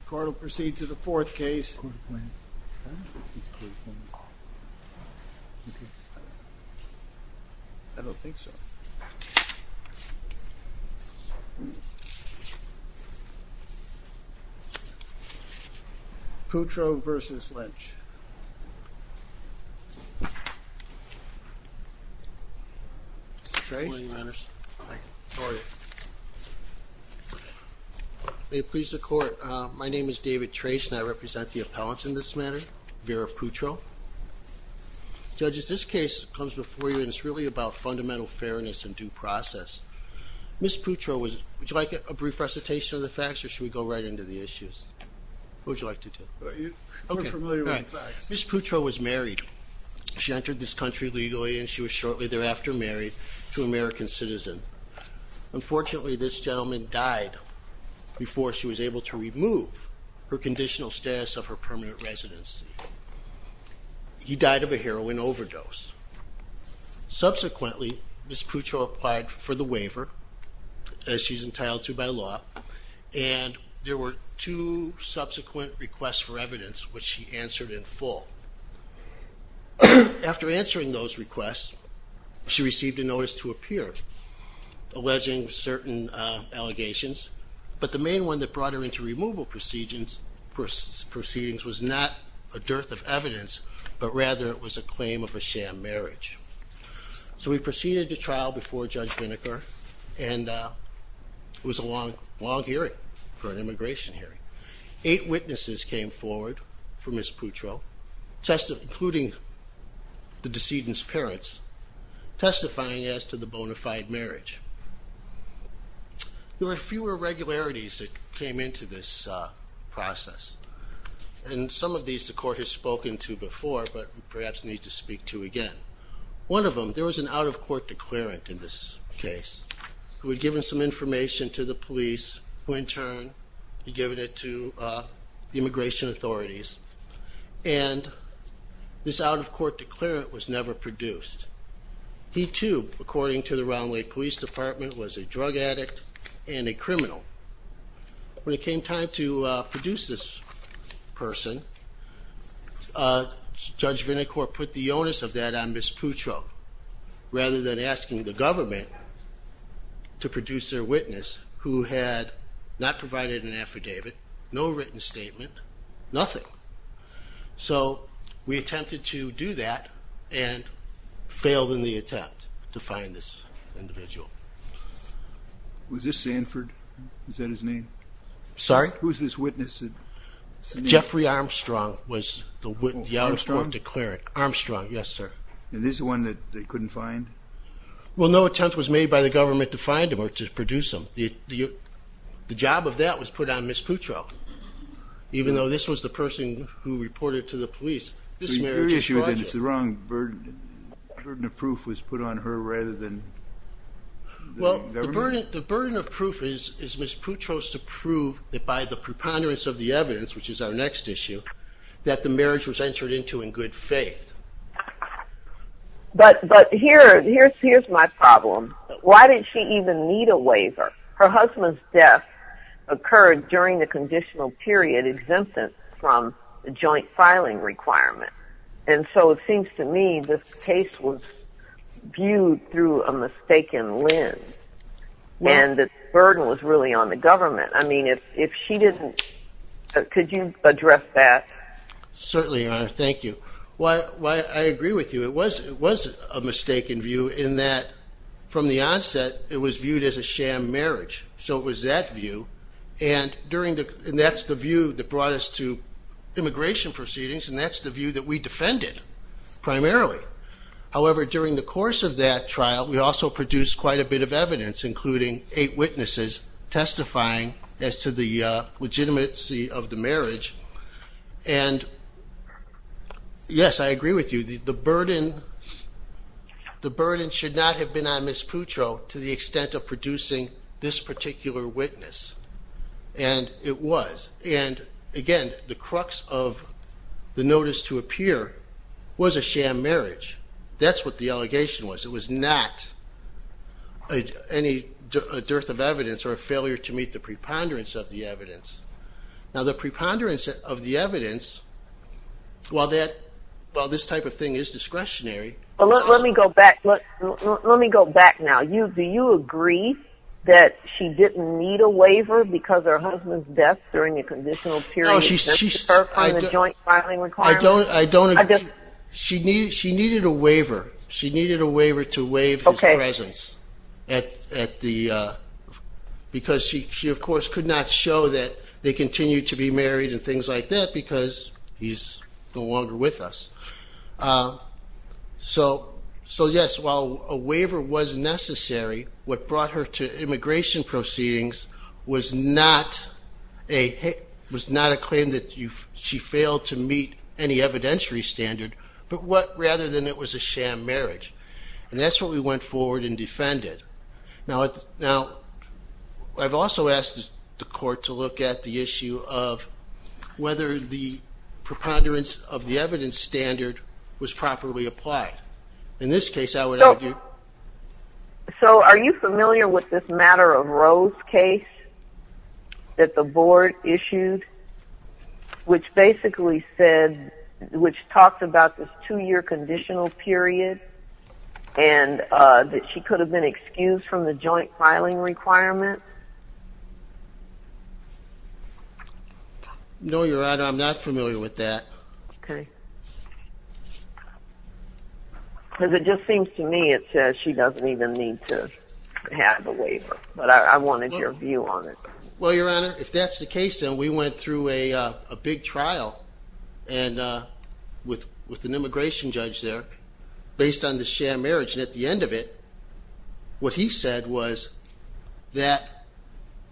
The court will proceed to the fourth case, Putro v. Lynch. Mr. Putro, would you like a brief recitation of the facts or should we go right into the facts? Ms. Putro was married. She entered this country legally and she was shortly thereafter married to an American citizen. Unfortunately, this gentleman died before she was able to remove her conditional status of her permanent residency. He died of a heroin overdose. Subsequently, Ms. Putro applied for the waiver, as she's entitled to by law, and there were two subsequent requests for evidence, which she answered in full. After answering those requests, she received a notice to appear alleging certain allegations, but the main one that brought her into removal proceedings was not a dearth of evidence, but rather it was a claim of a sham marriage. So we proceeded to trial before Judge Vinegar, and it was a long hearing for an immigration hearing. Eight witnesses came forward for Ms. Putro, including the decedent's parents, testifying as to the bona fide marriage. There were fewer irregularities that came into this process, and some of these the court has spoken to before, but perhaps needs to speak to again. One of them, there was an out-of-court declarant in this case, who had given some information to the police, who in turn had given it to the immigration authorities, and this out-of-court declarant was never produced. He too, according to the Round Lake Police Department, was a drug addict and a criminal. When it came time to produce this person, Judge Vinegar put the onus of that on Ms. Putro, rather than asking the government to produce their witness, who had not provided an affidavit, no written statement, nothing. So we attempted to do that, and failed in the attempt to find this individual. Was this Sanford? Is that his name? Sorry? Who's this witness? Jeffrey Armstrong was the out-of-court declarant. Armstrong? Armstrong, yes, sir. And this is the one that they couldn't find? Well, no attempt was made by the government to find him or to produce him. The job of that was put on Ms. Putro, even though this was the person who reported to the police. This marriage is fraudulent. Your issue then is the wrong burden. Ms. Putro was the out-of-court declarant. Ms. Putro was the out-of-court declarant. Ms. Putro was the out-of-court declarant. Well, the burden of proof is Ms. Putro's to prove that by the preponderance of the evidence, which is our next issue, that the marriage was entered into in good faith. But here's my problem. Why did she even need a waiver? Her husband's death occurred during the conditional period exempted from the joint filing requirement. And so it seems to me this case was viewed through a mistaken lens. And the burden was really on the government. I mean, if she didn't – could you address that? Certainly, Your Honor. Thank you. I agree with you. It was a mistaken view in that from the onset it was viewed as a sham marriage. So it was that view. And that's the view that brought us to immigration proceedings, and that's the view that we defended primarily. However, during the course of that trial, we also produced quite a bit of evidence, including eight witnesses testifying as to the legitimacy of the marriage. And, yes, I agree with you. The burden should not have been on Ms. Putro to the extent of producing this particular witness. And it was. And, again, the crux of the notice to appear was a sham marriage. That's what the allegation was. It was not any dearth of evidence or a failure to meet the preponderance of the evidence. Now, the preponderance of the evidence, while this type of thing is discretionary. Let me go back. Let me go back now. Do you agree that she didn't need a waiver because her husband's death during the conditional period did not deter her from the joint filing requirement? I don't agree. She needed a waiver. She needed a waiver to waive his presence because she, of course, could not show that they continued to be married and things like that because he's no longer with us. So, yes, while a waiver was necessary, what brought her to immigration proceedings was not a claim that she failed to meet any evidentiary standard, but rather than it was a sham marriage. And that's what we went forward and defended. Now, I've also asked the court to look at the issue of whether the preponderance of the evidence standard was properly applied. In this case, I would argue. So are you familiar with this matter of Rose case that the board issued, which basically said, which talked about this two-year conditional period and that she could have been excused from the joint filing requirement? No, Your Honor, I'm not familiar with that. Okay. Because it just seems to me it says she doesn't even need to have a waiver. But I wanted your view on it. Well, Your Honor, if that's the case, then we went through a big trial with an immigration judge there based on the sham marriage. And at the end of it, what he said was that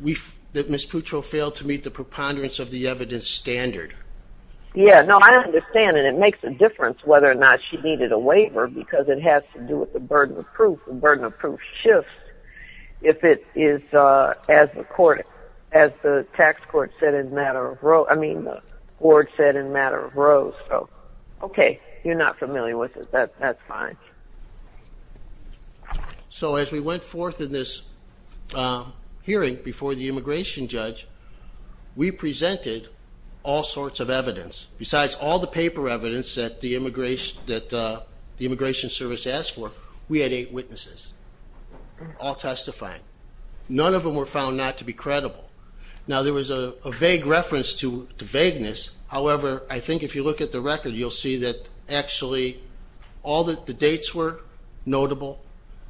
Ms. Putro failed to meet the preponderance of the evidence standard. Yeah. No, I understand. And it makes a difference whether or not she needed a waiver because it has to do with the burden of proof. The burden of proof shifts if it is, as the court, as the tax court said in the matter of Rose. I mean, the board said in the matter of Rose. So, okay, you're not familiar with it. That's fine. So as we went forth in this hearing before the immigration judge, we presented all sorts of evidence. Besides all the paper evidence that the immigration service asked for, we had eight witnesses all testifying. None of them were found not to be credible. Now, there was a vague reference to vagueness. However, I think if you look at the record, you'll see that actually all the dates were notable.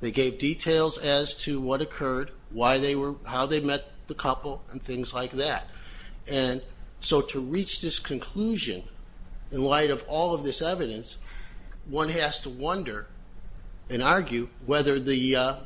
They gave details as to what occurred, how they met the couple, and things like that. And so to reach this conclusion in light of all of this evidence, one has to wonder and argue whether the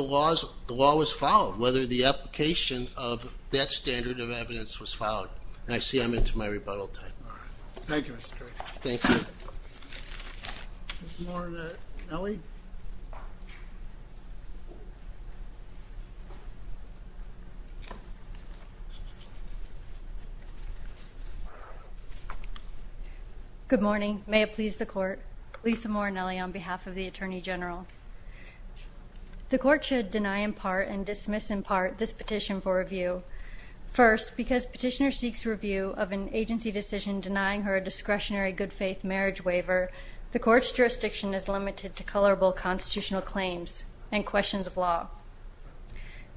law was followed, whether the application of that standard of evidence was followed. And I see I'm into my rebuttal time. All right. Thank you, Mr. Chairman. Thank you. Lisa Moore and Nellie? Good morning. May it please the court. Lisa Moore and Nellie on behalf of the Attorney General. The court should deny in part and dismiss in part this petition for review. First, because petitioner seeks review of an agency decision denying her a discretionary good faith marriage waiver, the court's jurisdiction is limited to colorable constitutional claims and questions of law.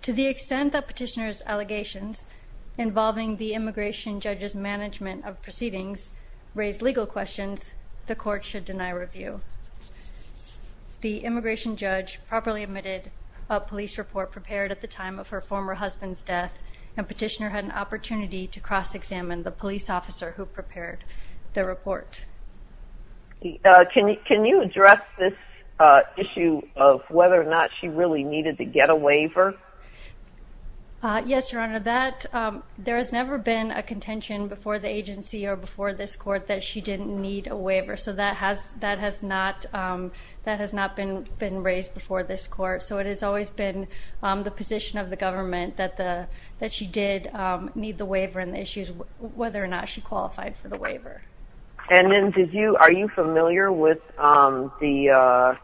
To the extent that petitioner's allegations involving the immigration judge's management of proceedings raise legal questions, the court should deny review. The immigration judge properly admitted a police report prepared at the time of her former husband's death, and petitioner had an opportunity to cross-examine the police officer who prepared the report. Can you address this issue of whether or not she really needed to get a waiver? Yes, Your Honor. There has never been a contention before the agency or before this court that she didn't need a waiver. So that has not been raised before this court. So it has always been the position of the government that she did need the waiver and the issue is whether or not she qualified for the waiver. And then are you familiar with that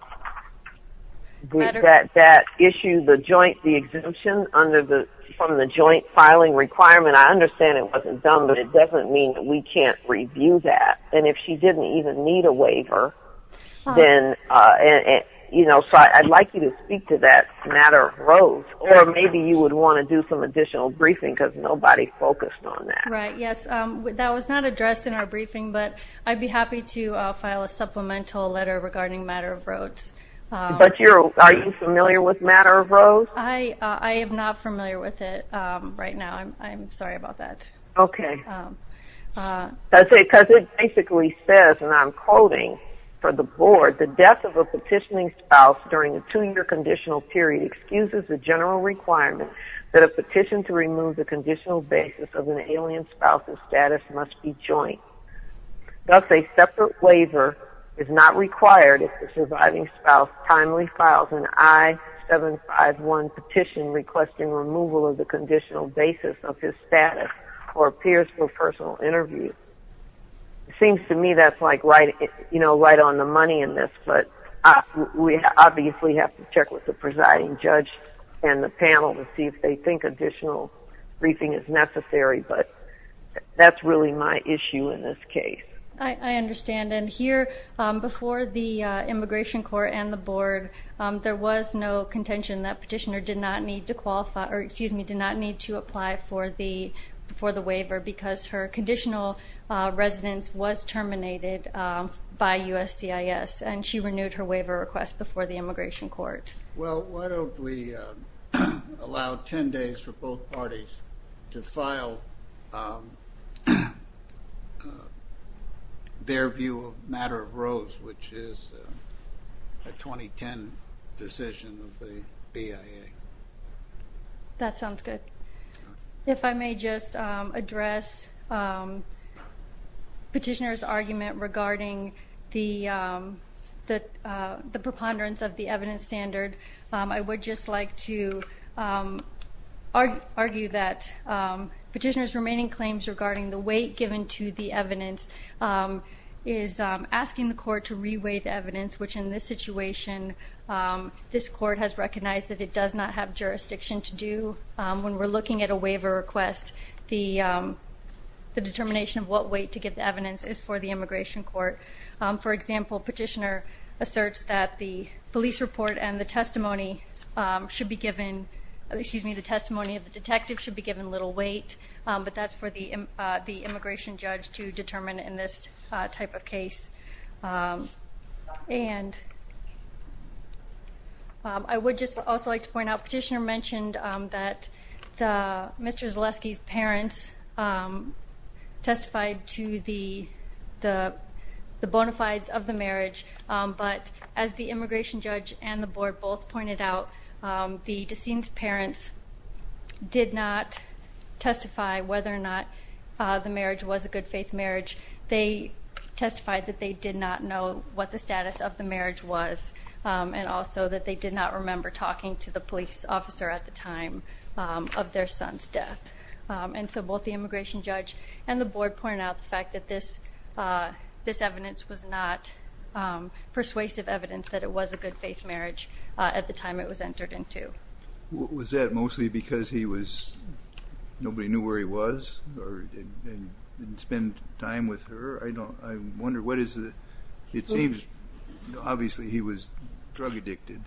issue, the joint exemption from the joint filing requirement? I understand it wasn't done, but it doesn't mean that we can't review that. And if she didn't even need a waiver, then, you know, so I'd like you to speak to that matter of roads. Or maybe you would want to do some additional briefing because nobody focused on that. Right, yes. That was not addressed in our briefing, but I'd be happy to file a supplemental letter regarding matter of roads. But are you familiar with matter of roads? I am not familiar with it right now. I'm sorry about that. Okay. Because it basically says, and I'm quoting for the board, the death of a petitioning spouse during a two-year conditional period excuses the general requirement that a petition to remove the conditional basis of an alien spouse's status must be joint. Thus, a separate waiver is not required if the surviving spouse timely files an I-751 petition requesting removal of the conditional basis of his status or appears for a personal interview. It seems to me that's like right on the money in this, but we obviously have to check with the presiding judge and the panel to see if they think additional briefing is necessary. But that's really my issue in this case. I understand. And here, before the immigration court and the board, there was no contention that petitioner did not need to qualify or, excuse me, did not need to apply for the waiver because her conditional residence was terminated by USCIS, and she renewed her waiver request before the immigration court. Well, why don't we allow 10 days for both parties to file their view of matter of rows, which is a 2010 decision of the BIA. That sounds good. If I may just address petitioner's argument regarding the preponderance of the evidence standard, I would just like to argue that petitioner's remaining claims regarding the weight given to the evidence is asking the court to reweigh the evidence, which in this situation, this court has recognized that it does not have jurisdiction to do. When we're looking at a waiver request, the determination of what weight to give the evidence is for the immigration court. For example, petitioner asserts that the police report and the testimony should be given, excuse me, the testimony of the detective should be given little weight, but that's for the immigration judge to determine in this type of case. And I would just also like to point out petitioner mentioned that Mr. Zaleski's parents testified to the bona fides of the marriage. But as the immigration judge and the board both pointed out, the deceased parents did not testify whether or not the marriage was a good faith marriage. They testified that they did not know what the status of the marriage was, and also that they did not remember talking to the police officer at the time of their son's death. And so both the immigration judge and the board pointed out the fact that this evidence was not persuasive evidence that it was a good faith marriage at the time it was entered into. Was that mostly because he was, nobody knew where he was or didn't spend time with her? I wonder what is the, it seems obviously he was drug addicted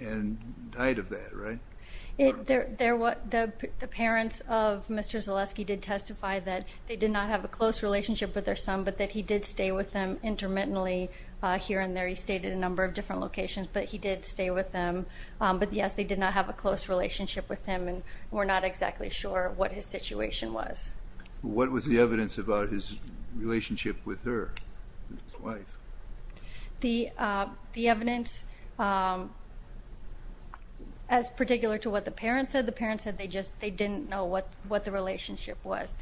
and died of that, right? The parents of Mr. Zaleski did testify that they did not have a close relationship with their son, but that he did stay with them intermittently here and there. He stayed at a number of different locations, but he did stay with them. But yes, they did not have a close relationship with him and were not exactly sure what his situation was. What was the evidence about his relationship with her, his wife? The evidence, as particular to what the parents said, the parents said they just, they didn't know what the relationship was.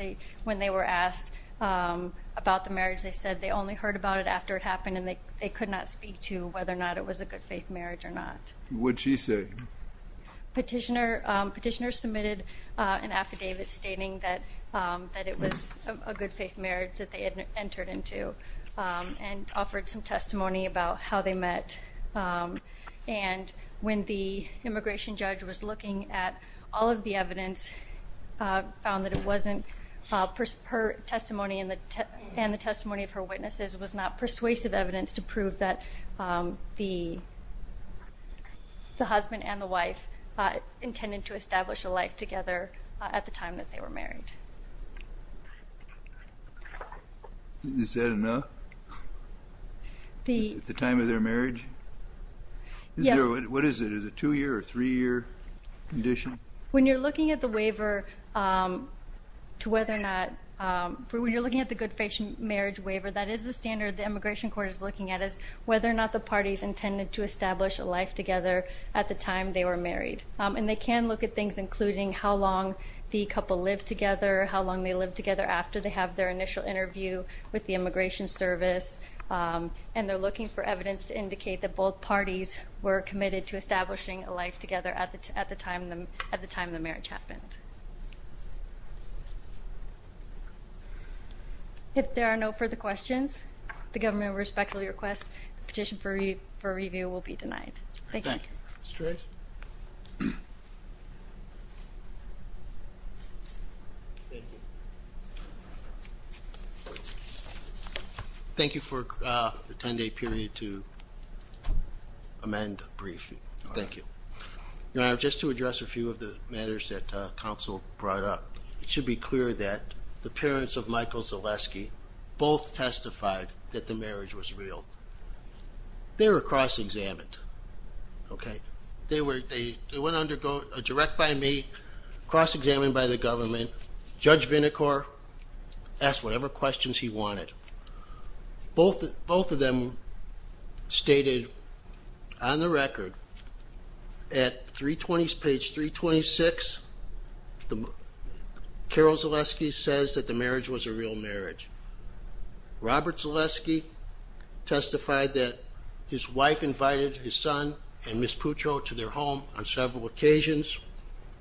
When they were asked about the marriage, they said they only heard about it after it happened and they could not speak to whether or not it was a good faith marriage or not. What did she say? Petitioner submitted an affidavit stating that it was a good faith marriage that they had entered into and offered some testimony about how they met. And when the immigration judge was looking at all of the evidence, found that it wasn't her testimony and the testimony of her witnesses was not persuasive evidence to prove that the husband and the wife intended to establish a life together at the time that they were married. Is that enough? At the time of their marriage? Yes. What is it? Is it a two-year or three-year condition? When you're looking at the waiver to whether or not, when you're looking at the good faith marriage waiver, that is the standard the immigration court is looking at, is whether or not the parties intended to establish a life together at the time they were married. And they can look at things including how long the couple lived together, how long they lived together after they have their initial interview with the immigration service, and they're looking for evidence to indicate that both parties were committed to establishing a life together at the time the marriage happened. If there are no further questions, the government respectfully requests the petition for review will be denied. Thank you. Thank you. Mr. Reyes? Thank you. Thank you for the 10-day period to amend briefly. Thank you. Your Honor, just to address a few of the matters that counsel brought up, it should be clear that the parents of Michael Zaleski both testified that the marriage was real. They were cross-examined, okay? They went under direct by me, cross-examined by the government. Judge Vinicor asked whatever questions he wanted. Both of them stated on the record at page 326, Carol Zaleski says that the marriage was a real marriage. Robert Zaleski testified that his wife invited his son and Miss Putro to their home on several occasions.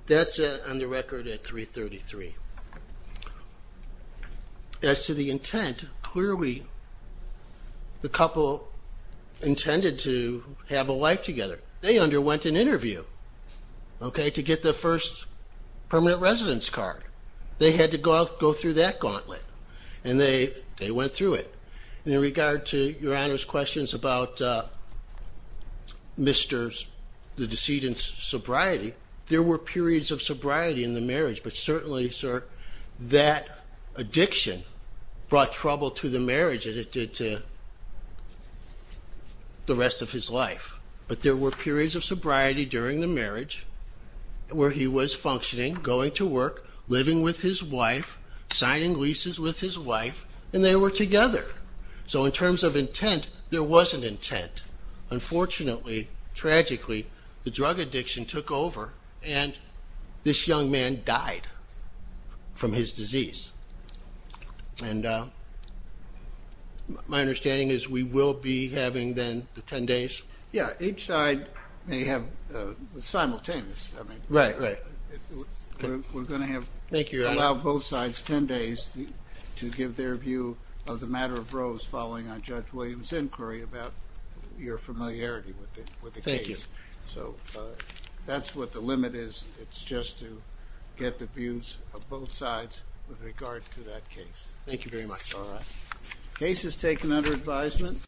That's on the record at 333. As to the intent, clearly the couple intended to have a life together. They underwent an interview, okay, to get their first permanent residence card. They had to go through that gauntlet, and they went through it. In regard to Your Honor's questions about the decedent's sobriety, there were periods of sobriety in the marriage, but certainly, sir, that addiction brought trouble to the marriage as it did to the rest of his life. But there were periods of sobriety during the marriage where he was functioning, going to work, living with his wife, signing leases with his wife, and they were together. So in terms of intent, there was an intent. Unfortunately, tragically, the drug addiction took over, and this young man died from his disease. And my understanding is we will be having then the 10 days? Yeah, each side may have simultaneous. Right, right. We're going to allow both sides 10 days to give their view of the matter of Rose following on Judge Williams' inquiry about your familiarity with the case. Thank you. So that's what the limit is. It's just to get the views of both sides with regard to that case. Thank you very much. All right. Case is taken under advisement.